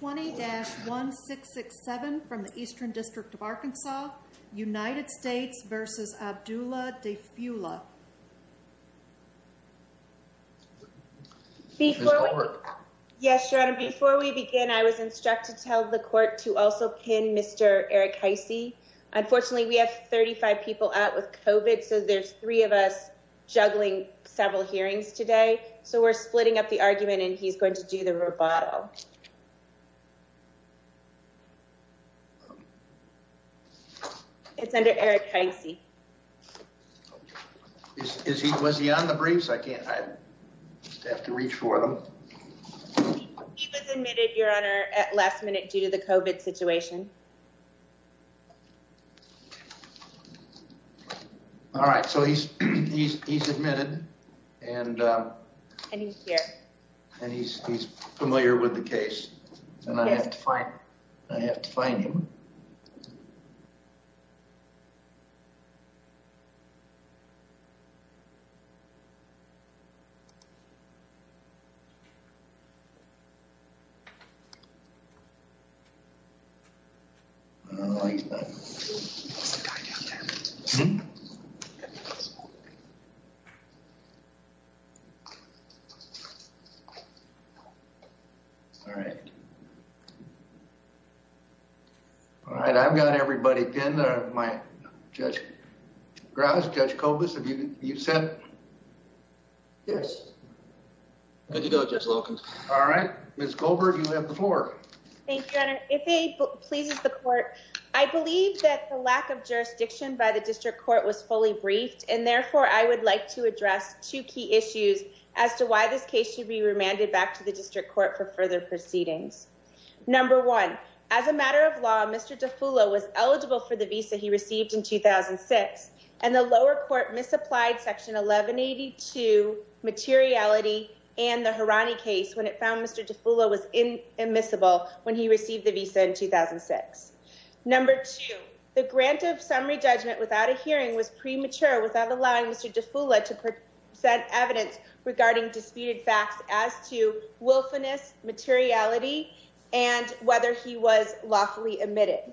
20-1667 from the Eastern District of Arkansas, United States v. Abdulla Daifullah Before we begin, I was instructed to tell the court to also pin Mr. Eric Heisey. Unfortunately, we have 35 people out with COVID, so there's three of us juggling several hearings today. So we're splitting up the argument, and he's going to do the rebuttal. It's under Eric Heisey. Was he on the briefs? I have to reach for them. He was admitted, Your Honor, at last minute due to the COVID situation. All right, so he's admitted, and he's familiar with the case, and I have to find him. He's the guy down there. All right. All right, I've got everybody pinned. Judge Graz, Judge Kobus, have you sent? Yes. Good to go, Judge Wilkins. All right, Ms. Goldberg, you have the floor. Thank you, Your Honor. If it pleases the court, I believe that the lack of jurisdiction by the district court was fully briefed, and therefore I would like to address two key issues as to why this case should be remanded back to the district court for further proceedings. Number one, as a matter of law, Mr. Daifullah was eligible for the visa he received in 2006, and the lower court misapplied Section 1182 materiality and the Harani case when it found Mr. Daifullah was immiscible when he received the visa in 2006. Number two, the grant of summary judgment without a hearing was premature without allowing Mr. Daifullah to present evidence regarding disputed facts as to whether he was lawfully admitted.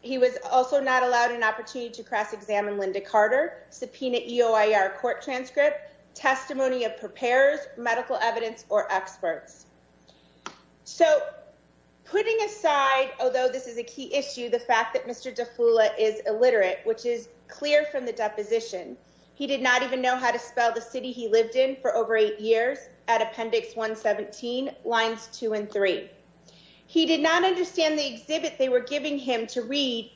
He was also not allowed an opportunity to cross-examine Linda Carter, subpoena EOIR court transcript, testimony of preparers, medical evidence, or experts. So, putting aside, although this is a key issue, the fact that Mr. Daifullah is illiterate, which is clear from the deposition, he did not even know how to spell the city he lived in for over eight years at Appendix 117, Lines 2 and 3. He did not understand the exhibit they were giving him to read,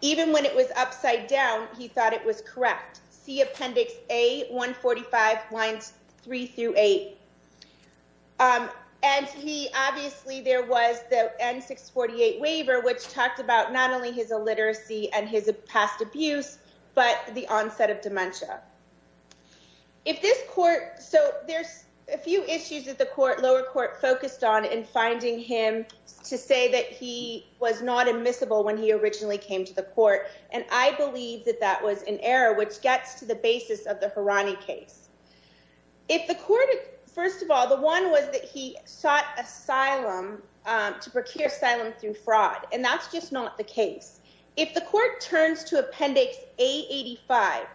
even when it was upside down, he thought it was correct. See Appendix A, 145, Lines 3 through 8. And he, obviously, there was the N-648 waiver, which talked about not only his illiteracy and his past abuse, but the onset of dementia. If this court, so there's a few issues that the lower court focused on in finding him to say that he was not admissible when he originally came to the court, and I believe that that was an error, which gets to the basis of the Harani case. If the court, first of all, the one was that he sought asylum, to procure asylum through fraud, and that's just not the case. If the court turns to Appendix A, 85,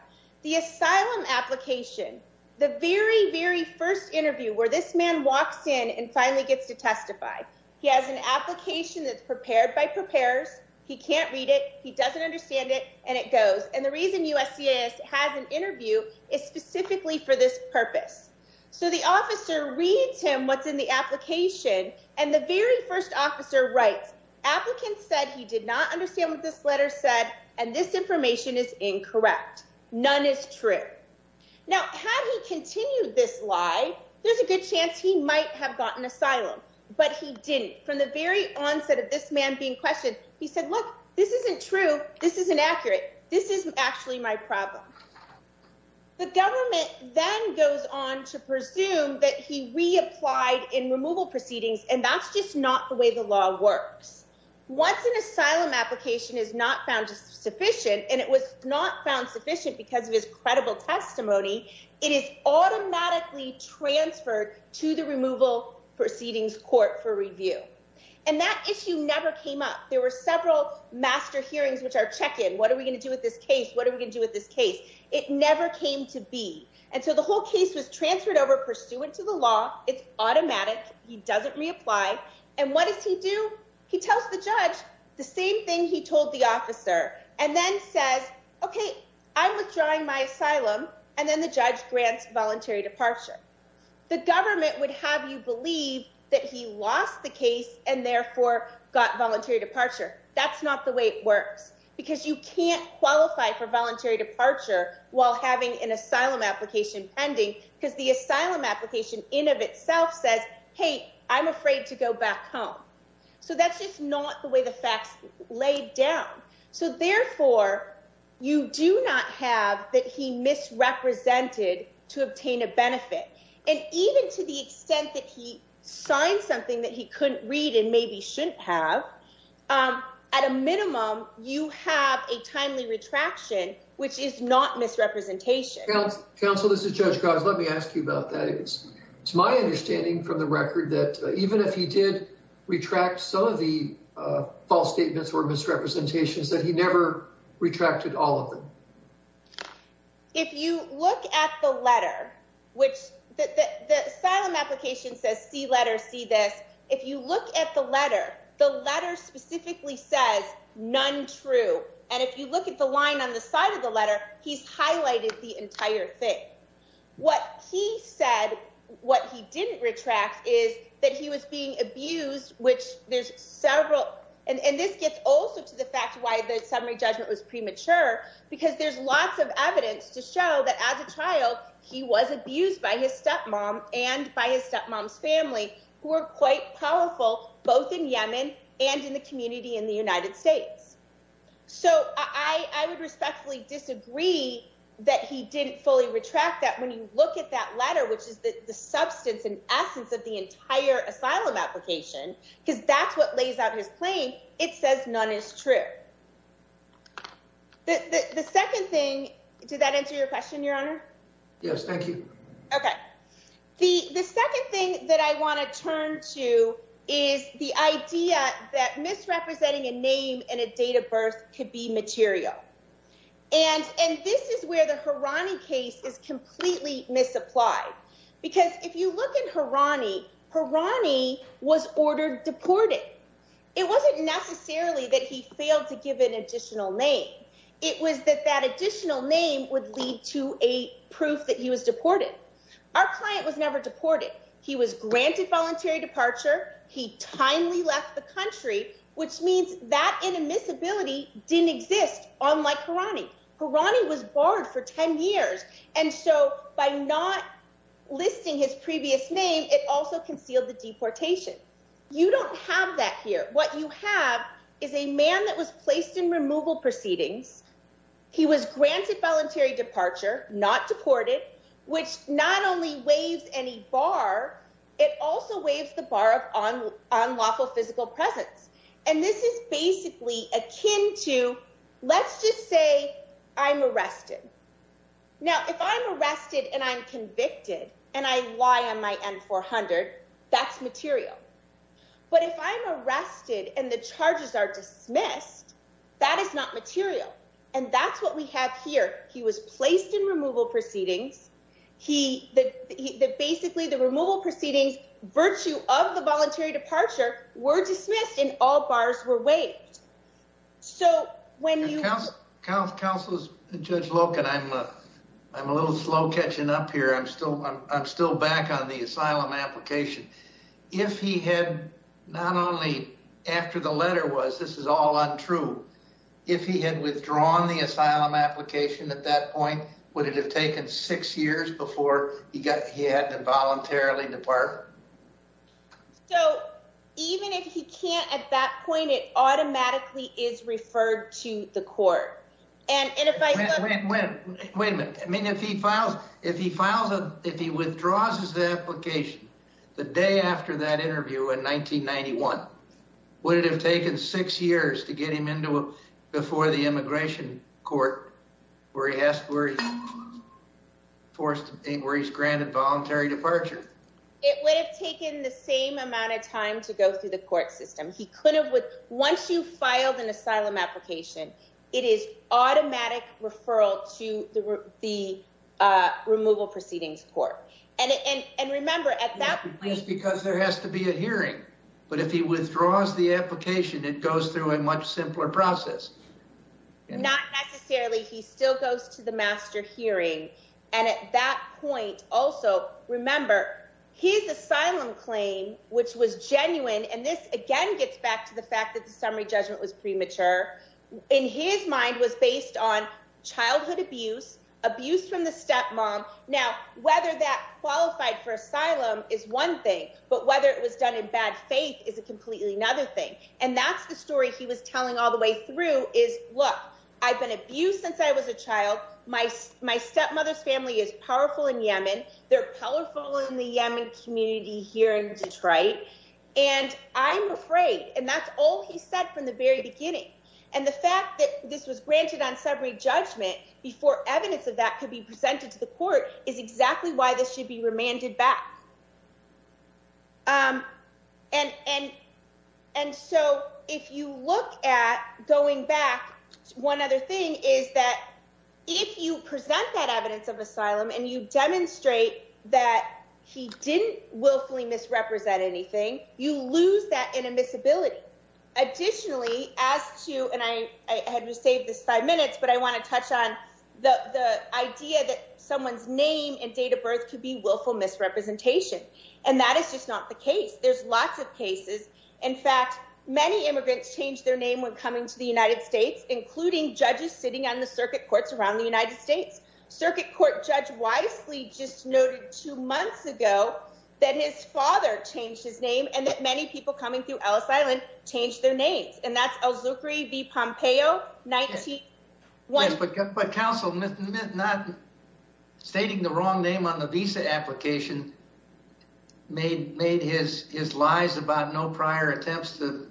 the asylum application, the very, very first interview where this man walks in and finally gets to testify, he has an application that's prepared by preparers, he can't read it, he doesn't understand it, and it goes. And the reason USCIS has an interview is specifically for this purpose. So the officer reads him what's in the application, and the very first officer writes, applicant said he did not understand what this letter said, and this information is incorrect. None is true. Now, had he continued this lie, there's a good chance he might have gotten asylum, but he didn't. From the very onset of this man being questioned, he said, look, this isn't true, this isn't accurate, this is actually my problem. The government then goes on to presume that he reapplied in removal proceedings, and that's just not the way the law works. Once an asylum application is not found sufficient, and it was not found sufficient because of his credible testimony, it is automatically transferred to the removal proceedings court for review. And that issue never came up. There were several master hearings which are check-in, what are we going to do with this case, what are we going to do with this case? It never came to be. And so the whole case was transferred over pursuant to the law, it's automatic, he doesn't reapply. And what does he do? He tells the judge the same thing he told the officer, and then says, okay, I'm withdrawing my asylum, and then the judge grants voluntary departure. The government would have you believe that he lost the case and therefore got voluntary departure. That's not the way it works, because you can't qualify for voluntary departure while having an asylum application pending, because the asylum application in of itself says, hey, I'm afraid to go back home. So that's just not the way the facts lay down. So therefore, you do not have that he misrepresented to obtain a benefit. And even to the extent that he signed something that he couldn't read and maybe shouldn't have, at a minimum, you have a timely retraction, which is not misrepresentation. Counsel, this is Judge Grimes, let me ask you about that. It's my understanding from the record that even if he did retract some of the false statements or misrepresentations, that he never retracted all of them. If you look at the letter, which the asylum application says, see letter, see this. If you look at the letter, the letter specifically says none true. And if you look at the line on the side of the letter, he's highlighted the entire thing. What he said, what he didn't retract is that he was being abused, which there's several. And this gets also to the fact why the summary judgment was premature, because there's lots of evidence to show that as a child, he was abused by his stepmom and by his stepmom's family, who were quite powerful, both in Yemen and in the community in the United States. So I would respectfully disagree that he didn't fully retract that when you look at that letter, which is the substance and essence of the entire asylum application, because that's what lays out his claim, it says none is true. The second thing, did that answer your question, Your Honor? Yes, thank you. Okay, the second thing that I want to turn to is the idea that misrepresenting a name and a date of birth could be material. And this is where the Harani case is completely misapplied. Because if you look at Harani, Harani was ordered deported. It wasn't necessarily that he failed to give an additional name. It was that that additional name would lead to a proof that he was deported. Our client was never deported. He was granted voluntary departure. He timely left the country, which means that inadmissibility didn't exist, unlike Harani. Harani was barred for 10 years. And so by not listing his previous name, it also concealed the deportation. You don't have that here. What you have is a man that was placed in removal proceedings. He was granted voluntary departure, not deported, which not only waives any bar, it also waives the bar of unlawful physical presence. And this is basically akin to, let's just say, I'm arrested. Now, if I'm arrested and I'm convicted and I lie on my N-400, that's material. But if I'm arrested and the charges are dismissed, that is not material. And that's what we have here. He was placed in removal proceedings. Basically, the removal proceedings, virtue of the voluntary departure, were dismissed and all bars were waived. So when you... Counselors, Judge Loken, I'm a little slow catching up here. I'm still back on the asylum application. If he had not only, after the letter was, this is all untrue, if he had withdrawn the asylum application at that point, would it have taken six years before he had to voluntarily depart? So, even if he can't at that point, it automatically is referred to the court. And if I... Wait a minute. I mean, if he withdraws his application the day after that interview in 1991, would it have taken six years to get him into, before the immigration court, where he's granted voluntary departure? It would have taken the same amount of time to go through the court system. He couldn't have... Once you filed an asylum application, it is automatic referral to the removal proceedings court. And remember, at that point... Yes, because there has to be a hearing. But if he withdraws the application, it goes through a much simpler process. Not necessarily. He still goes to the master hearing. And at that point, also, remember, his asylum claim, which was genuine, and this again gets back to the fact that the summary judgment was premature, in his mind was based on childhood abuse, abuse from the stepmom. Now, whether that qualified for asylum is one thing, but whether it was done in bad faith is a completely another thing. And that's the story he was telling all the way through is, look, I've been abused since I was a child. My stepmother's family is powerful in Yemen. They're powerful in the Yemen community here in Detroit. And I'm afraid. And that's all he said from the very beginning. And the fact that this was granted on summary judgment before evidence of that could be presented to the court is exactly why this should be remanded back. And so if you look at going back, one other thing is that if you present that evidence of asylum and you demonstrate that he didn't willfully misrepresent anything, you lose that inadmissibility. Additionally, as to, and I had to save this five minutes, but I want to touch on the idea that someone's name and date of birth could be willful misrepresentation. And that is just not the case. There's lots of cases. In fact, many immigrants change their name when coming to the United States, including judges sitting on the circuit courts around the United States. Circuit court judge wisely just noted two months ago that his father changed his name and that many people coming through Ellis Island changed their names. And that's Elzukri V. Pompeo. But counsel, stating the wrong name on the visa application made his lies about no prior attempts to,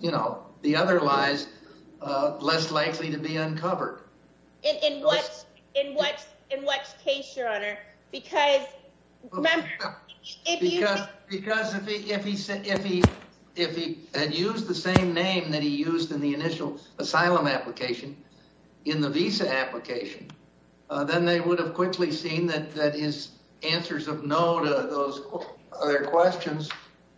you know, the other lies less likely to be uncovered. In what case, your Honor? Because if he had used the same name that he used in the initial asylum application in the visa application, then they would have quickly seen that his answers of no to those other questions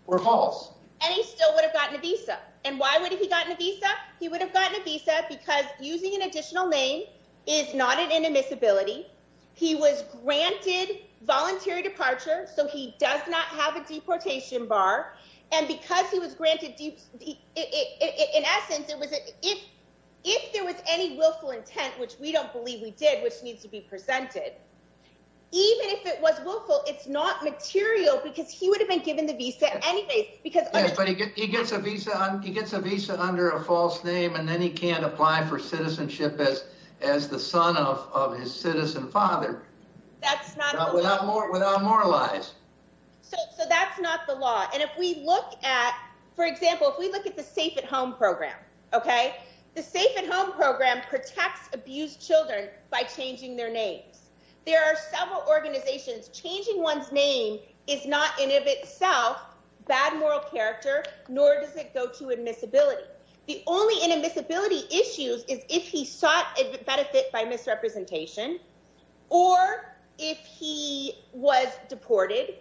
were false. And he still would have gotten a visa. And why would he have gotten a visa? He would have gotten a visa because using an additional name is not an inadmissibility. He was granted voluntary departure, so he does not have a deportation bar. And because he was granted... In essence, if there was any willful intent, which we don't believe we did, which needs to be presented, even if it was willful, it's not material because he would have been given the visa anyways. Yes, but he gets a visa under a false name and then he can't apply for citizenship as the son of his citizen father. That's not the law. Without more lies. So that's not the law. And if we look at... For example, if we look at the Safe at Home program, the Safe at Home program protects abused children by changing their names. There are several organizations. Changing one's name is not in and of itself bad moral character, nor does it go to admissibility. The only inadmissibility issues is if he sought benefit by misrepresentation, or if he was deported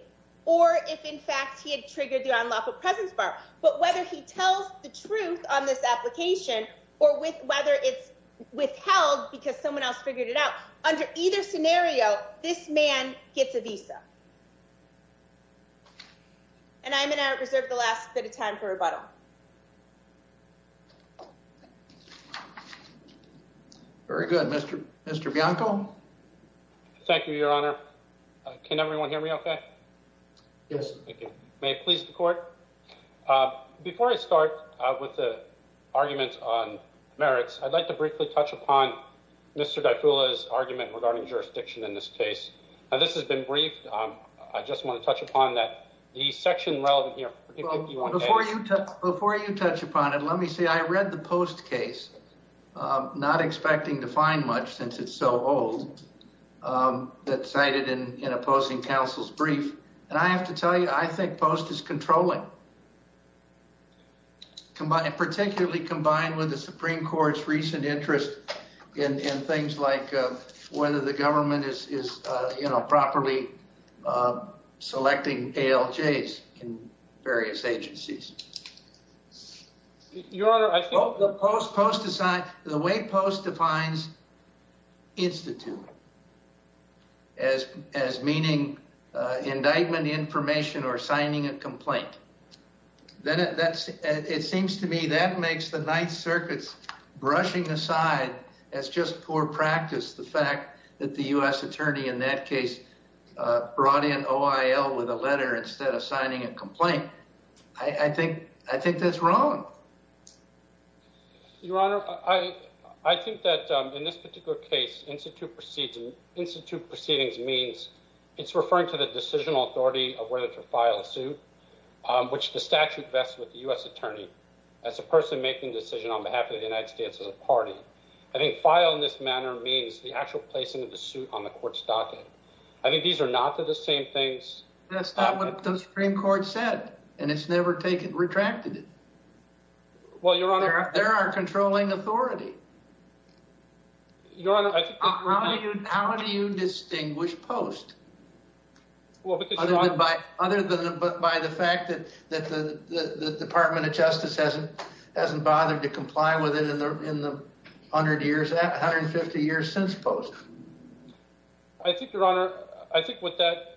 or if in fact he had triggered the unlawful presence bar. But whether he tells the truth on this application or whether it's withheld because someone else figured it out, under either scenario, this man gets a visa. And I'm going to reserve the last bit of time for rebuttal. Very good. Mr. Bianco? Thank you, Your Honor. Can everyone hear me okay? Yes. May it please the court? Before I start with the argument on merits, I'd like to briefly touch upon Mr. Daifula's argument regarding jurisdiction in this case. Now, this has been briefed. I just want to touch upon that the section relevant here... Before you touch upon it, let me say I read the post case, not expecting to find much since it's so old, that's cited in a Posting Council's brief. And I have to tell you, I think Post is controlling. Particularly combined with the Supreme Court's recent interest in things like whether the government is, you know, properly selecting ALJs in various agencies. Your Honor, I think... The way Post defines instituting, as meaning indictment information or signing a complaint. It seems to me that makes the Ninth Circuit's brushing aside as just poor practice the fact that the U.S. Attorney in that case brought in OIL with a letter instead of signing a complaint. I think that's wrong. Your Honor, I think that in this particular case, institute proceedings means it's referring to the decisional authority of whether to file a suit, which the statute vests with the U.S. Attorney as a person making a decision on behalf of the United States as a party. I think file in this manner means the actual placing of the suit on the court's docket. I think these are not the same things... That's not what the Supreme Court said, and it's never retracted it. Well, Your Honor... They're our controlling authority. Your Honor, I think... How do you distinguish Post? Well, because Your Honor... Other than by the fact that the Department of Justice hasn't bothered to comply with it in the 150 years since Post. I think, Your Honor, I think what that...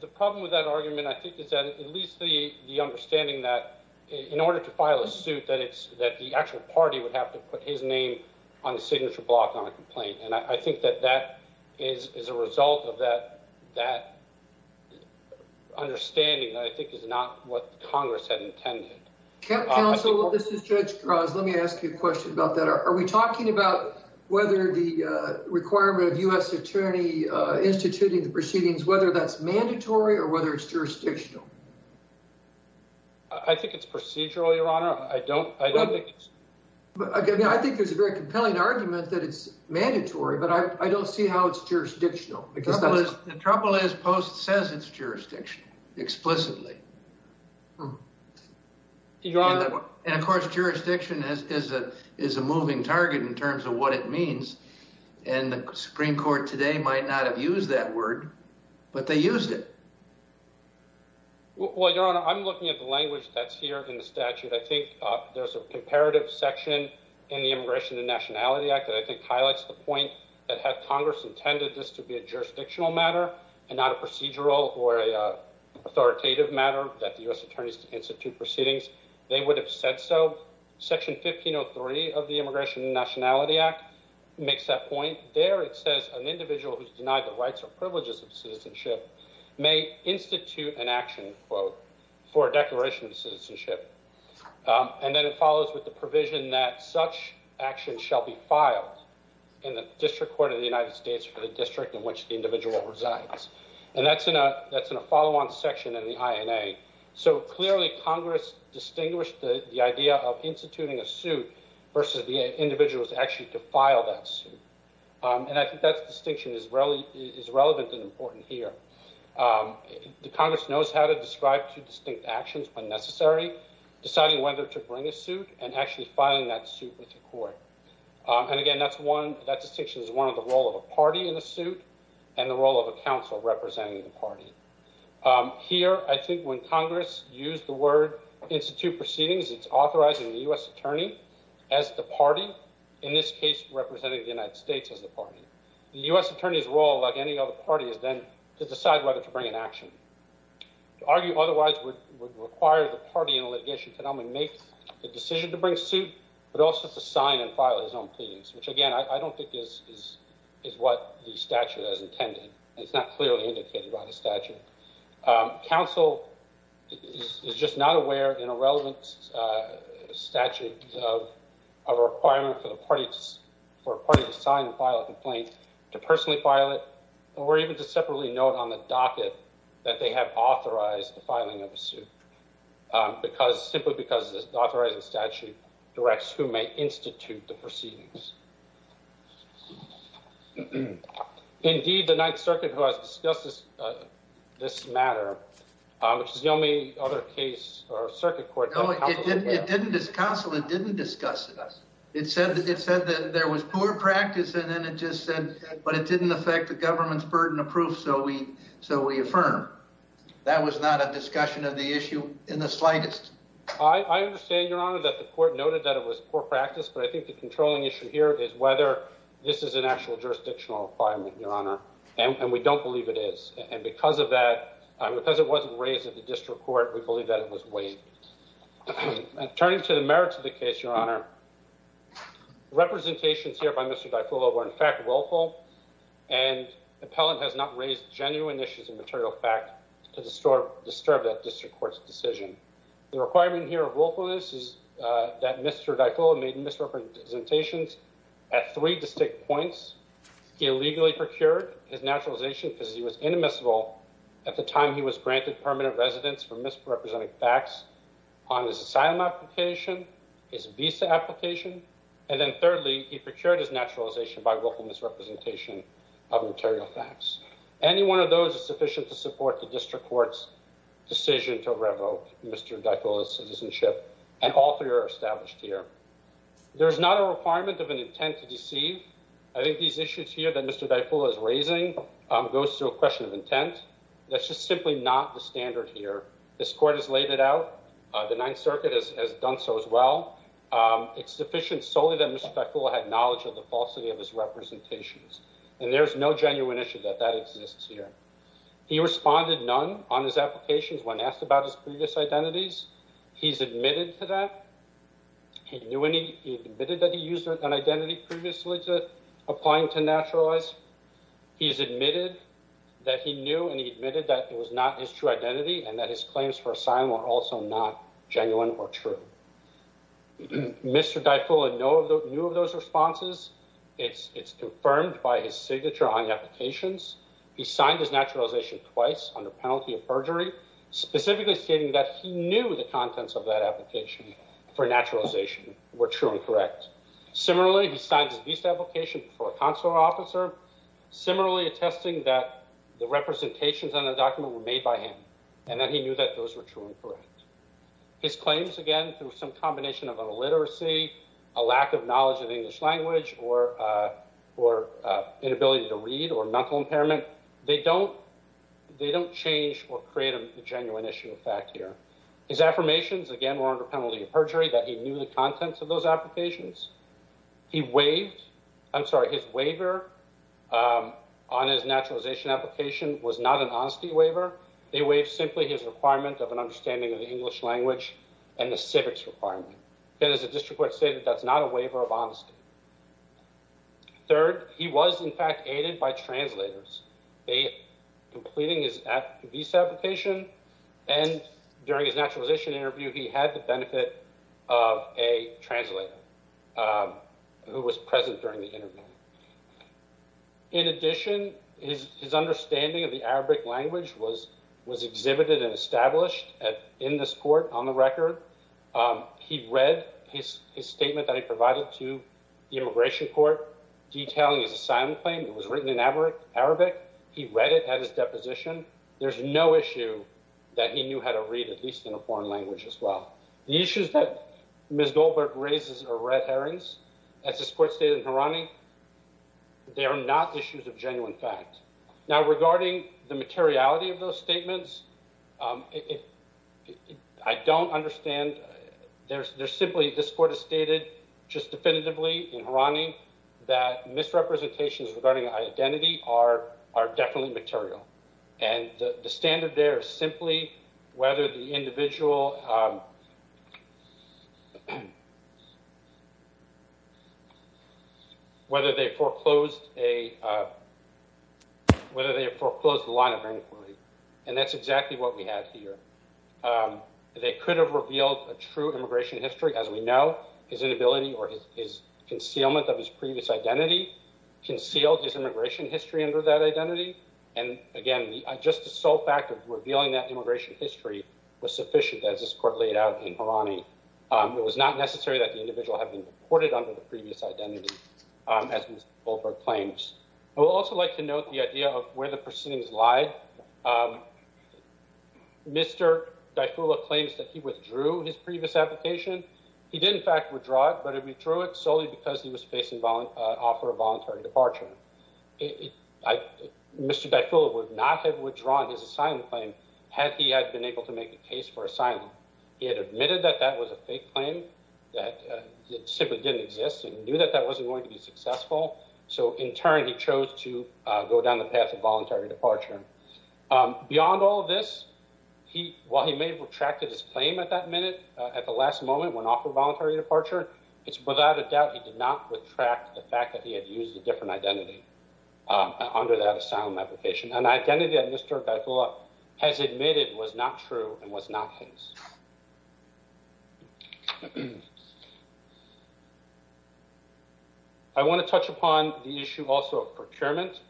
The problem with that argument, I think, is that at least the understanding that in order to file a suit, that the actual party would have to put his name on a signature block on a complaint. And I think that that is a result of that understanding that I think is not what Congress had intended. Counsel, this is Judge Krause. Let me ask you a question about that. Are we talking about whether the requirement of U.S. Attorney instituting the proceedings, whether that's mandatory or whether it's jurisdictional? I think it's procedural, Your Honor. I don't think it's... I think it's a very compelling argument that it's mandatory, but I don't see how it's jurisdictional. The trouble is Post says it's jurisdictional, explicitly. Your Honor... And, of course, jurisdiction is a moving target in terms of what it means. And the Supreme Court today might not have used that word, but they used it. Well, Your Honor, I'm looking at the language that's here in the statute. I think there's a comparative section in the Immigration and Nationality Act that I think highlights the point that had Congress intended this to be a jurisdictional matter and not a procedural or authoritative matter that the U.S. Attorneys institute proceedings, they would have said so. Section 1503 of the Immigration and Nationality Act makes that point. There it says an individual who's denied the rights or privileges of citizenship may institute an action, quote, for a declaration of citizenship. And then it follows with the provision that such action shall be filed in the District Court of the United States for the district in which the individual resides. And that's in a follow-on section in the INA. So, clearly, Congress distinguished the idea of instituting a suit versus the individuals actually to file that suit. And I think that distinction is relevant and important here. Congress knows how to describe two distinct actions when necessary, deciding whether to bring a suit and actually filing that suit with the court. And, again, that distinction is one of the role of a party in a suit and the role of a council representing the party. Here, I think when Congress used the word institute proceedings, it's authorizing the U.S. Attorney as the party, in this case representing the United States as the party. The U.S. Attorney's role, like any other party, is then to decide whether to bring an action. To argue otherwise would require the party in a litigation to not only make the decision to bring suit, but also to sign and file his own pleadings, which, again, I don't think is what the statute has intended. It's not clearly indicated by the statute. Council is just not aware, in a relevant statute, of a requirement for a party to sign and file a complaint, to personally file it, or to separately note on the docket that they have authorized the filing of a suit, simply because the authorizing statute directs who may institute the proceedings. Indeed, the Ninth Circuit, who has discussed this matter, which is the only other case, or circuit court, that counsel has... It didn't discuss it. It said that there was poor practice, and then it just said, but it didn't affect the government's burden of proof, so we affirm. That was not a discussion of the issue in the slightest. I understand, Your Honor, that the court noted that it was poor practice, but I think the controlling issue here is whether this is an actual jurisdictional requirement, Your Honor, and we don't believe it is. And because of that, because it wasn't raised at the district court, we believe that it was waived. Turning to the merits of the case, Your Honor, representations here by Mr. DiFullo were in fact willful, and the appellant has not raised genuine issues of material fact to disturb that district court's decision. The requirement here of willfulness is that Mr. DiFullo made misrepresentations at three distinct points. He illegally procured his naturalization because he was inadmissible. At the time, he was granted permanent residence for misrepresenting facts on his asylum application, his visa application, and then thirdly, he procured his naturalization by willful misrepresentation of material facts. Any one of those is sufficient to support the district court's decision to revoke Mr. DiFullo's citizenship, and all three are established here. There is not a requirement of an intent to deceive. I think these issues here that Mr. DiFullo is raising goes to a question of intent. That's just simply not the standard here. This court has laid it out. The Ninth Circuit has done so as well. It's sufficient solely that Mr. DiFullo had knowledge of the falsity of his representations, and there's no genuine issue that that exists here. He responded none on his applications when asked about his previous identities. He's admitted to that. He admitted that he used an identity previously to applying to naturalize. He's admitted that he knew and he admitted that it was not his true identity and that his claims for asylum were also not genuine or true. Mr. DiFullo knew of those responses. It's confirmed by his signature on the applications. He signed his naturalization twice under penalty of perjury, specifically stating that he knew the contents of that application for naturalization were true and correct. Similarly, he signed his visa application for a consular officer, similarly attesting that the representations on the document were made by him and that he knew that those were true and correct. His claims, again, through some combination of a lack of literacy, a lack of knowledge of English language or inability to read or mental impairment, they don't change or create a genuine issue of fact here. His affirmations, again, were under penalty of perjury, that he knew the contents of those applications. He waived, I'm sorry, his waiver on his naturalization application was not an honesty waiver. They waived simply his requirement of an understanding of the English language and the civics requirement. As the district court stated, that's not a waiver of honesty. Third, he was, in fact, aided by translators, completing his visa application and during his naturalization interview, he had the benefit of a translator who was present during the interview. In addition, his understanding of the Arabic language was exhibited and established in this court on the record. He read his statement that he provided to the immigration court detailing his asylum claim. It was written in Arabic. He read it at his deposition. There's no issue that he knew how to read, at least in a foreign language, as well. The issues that Ms. Goldberg raises are red herrings. As this court stated in Harani, they are not issues of genuine fact. Now, regarding the materiality of those statements, I don't understand. There's simply, this court has stated, just definitively in Harani, that misrepresentations regarding identity are definitely material. And the standard there is simply whether the individual, whether they foreclosed a, whether they foreclosed a line of inquiry. And that's exactly what we have here. They could have revealed a true immigration history. As we know, his inability or his concealment of his previous identity concealed his immigration history under that identity. And again, just the sole fact of revealing that immigration history was sufficient, as this court laid out in Harani. It was not necessary that the individual have been deported under the previous identity, as Ms. Goldberg claims. I would also like to note the idea that Mr. Dyfula claims that he withdrew his previous application. He did in fact withdraw it, but he withdrew it solely because he was facing offer of voluntary departure. Mr. Dyfula would not have withdrawn his asylum claim had he been able to make a case for asylum. He had admitted that that was a fake claim that simply didn't exist and knew that that wasn't going to be successful. So in turn, he chose to go down the path of voluntary departure. Beyond all of this, while he may have retracted his claim at that minute, at the last moment, when offered voluntary departure, it's without a doubt he did not retract the fact that he had used a different identity under that asylum application. An identity that Mr. Dyfula has admitted was not true and was not his. I want to touch upon the issue also of procurement.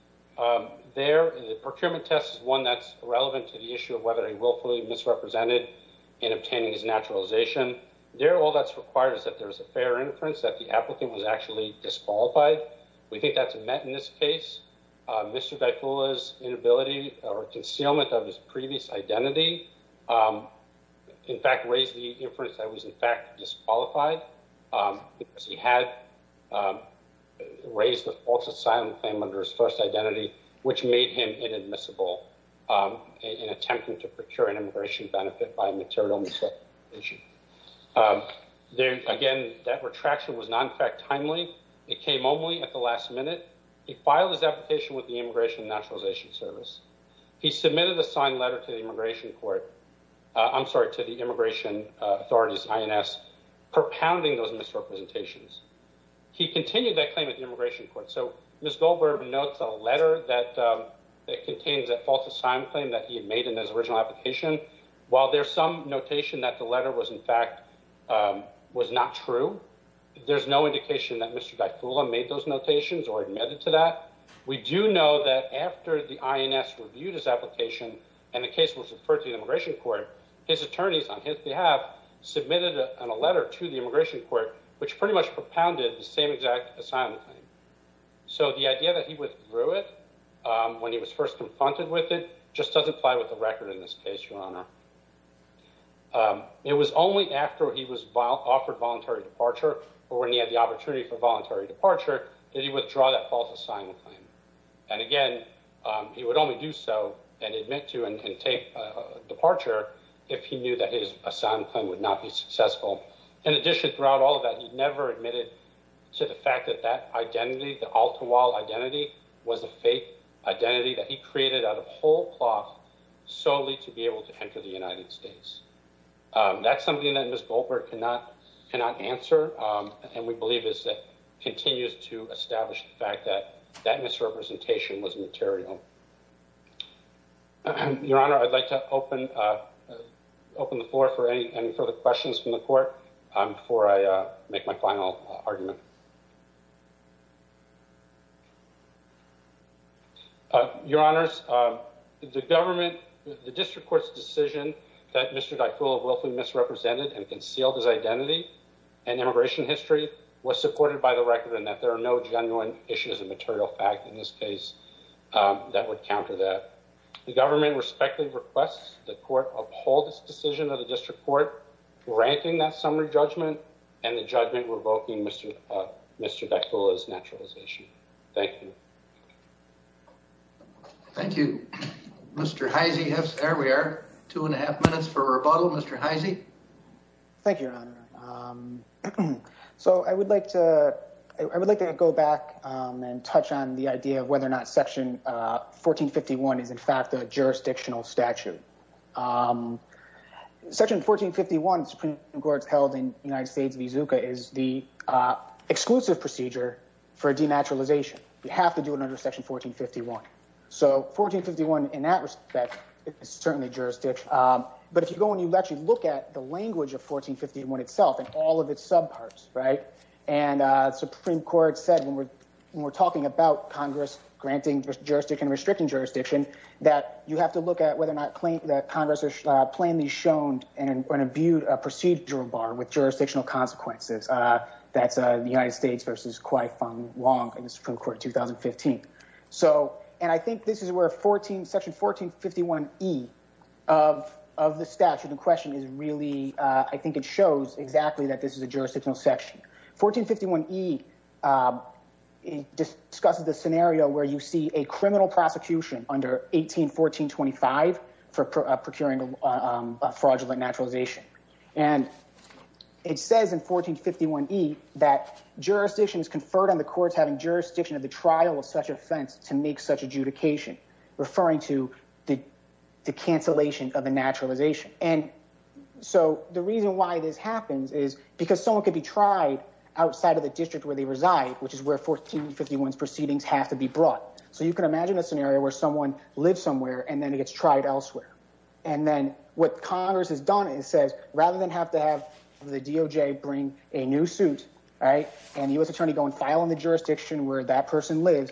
There, the procurement test is one that's relevant to the issue of whether he willfully misrepresented in obtaining his naturalization. There, all that's required is that there's a fair inference that the applicant was actually disqualified. We think that's met in this case. Mr. Dyfula's inability or concealment of his previous identity in fact raised the inference that he was in fact disqualified because he had raised a false asylum claim under his first identity which made him inadmissible in attempting to procure an immigration benefit by a material misrepresentation. There, again, that retraction was not in fact timely. It came only at the last minute. He filed his application with the Immigration and Naturalization Service. He submitted a signed letter to the Immigration Court, I'm sorry, to the Immigration Authorities, INS, propounding those misrepresentations. He continued that claim and notes a letter that contains a false asylum claim that he had made in his original application. While there's some notation that the letter was in fact, was not true, there's no indication that Mr. Dyfula made those notations or admitted to that. We do know that after the INS reviewed his application and the case was referred to the Immigration Court, his attorneys on his behalf submitted a letter and Mr. Dyfula withdrew it when he was first confronted with it. Just doesn't fly with the record in this case, Your Honor. It was only after he was offered voluntary departure or when he had the opportunity for voluntary departure that he withdrew that false asylum claim. And again, he would only do so and admit to and take departure if he knew that his asylum claim would not be successful. In addition throughout all of that, he never admitted to the fact that he was a fake identity that he created out of whole cloth solely to be able to enter the United States. That's something that Ms. Goldberg cannot answer. And we believe is that continues to establish the fact that that misrepresentation was material. Your Honor, I'd like to open the floor for any further questions from the court before I make my final argument. Your Honors, the government, the district court's decision that Mr. Daikula willfully misrepresented and concealed his identity and immigration history was supported by the record and that there are no genuine issues of material fact in this case that would counter that. The government respectfully requests the court uphold its decision of the district court granting that summary judgment and the judgment revoking Mr. Daikula's naturalization. Thank you. Thank you. Mr. Heise, there we are. Two and a half minutes for rebuttal. Mr. Heise. Thank you, Your Honor. So I would like to go back and touch on the idea of whether or not Section 1451 is in fact a jurisdictional statute. Section 1451, the Supreme Court's held that United States v. Zuka is the exclusive procedure for denaturalization. You have to do it under Section 1451. So 1451 in that respect is certainly jurisdict. But if you go and you actually look at the language of 1451 itself and all of its subparts, right, and the Supreme Court said when we're talking about Congress granting jurisdiction and restricting jurisdiction that you have to look at whether or not Congress has plainly shown an imbued procedural bar with jurisdictional consequences. That's the United States v. Kwai Fong Wong in the Supreme Court in 2015. So, and I think this is where Section 1451E of the statute in question is really, I think it shows exactly that this is a jurisdictional section. 1451E discusses the scenario where you see a criminal prosecution under 181425 for procuring a fraudulent naturalization. And it says in 1451E that jurisdiction is conferred on the courts having jurisdiction of the trial of such offense to make such adjudication, referring to the cancellation of a naturalization. And so the reason why this happens is because someone could be tried outside of the district where they reside, which is where 1451's proceedings have to be brought. So you can imagine a scenario where someone lives somewhere and then gets tried elsewhere. And then what Congress has done is says rather than have to have the DOJ bring a new suit, and the U.S. attorney go and file in the jurisdiction where that person lives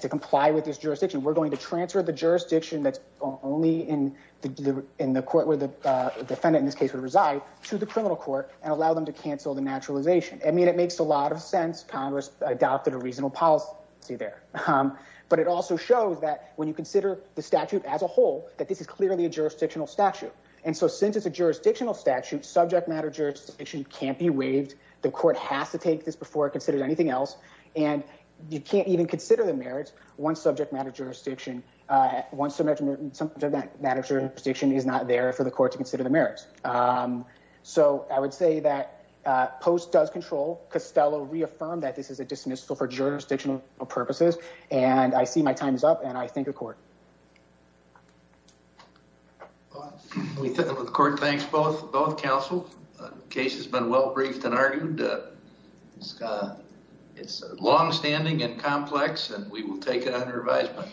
to comply with this jurisdiction, we're going to transfer the jurisdiction that's only in the court where the defendant in this case would reside to the criminal court and allow them to cancel the naturalization. I mean it makes a lot of sense. But it also shows that when you consider the statute as a whole that this is clearly a jurisdictional statute. And so since it's a jurisdictional statute, subject matter jurisdiction can't be waived. The court has to take this before it considers anything else. And you can't even consider the merits once subject matter jurisdiction is not there for the court to consider the merits. So I would say that Post does control. Costello reaffirmed that this is a dismissal for jurisdictional purposes. And I see my time is up and I thank the court. The court thanks both counsel. The case has been well briefed and argued. It's longstanding and complex and we will take it under advisement.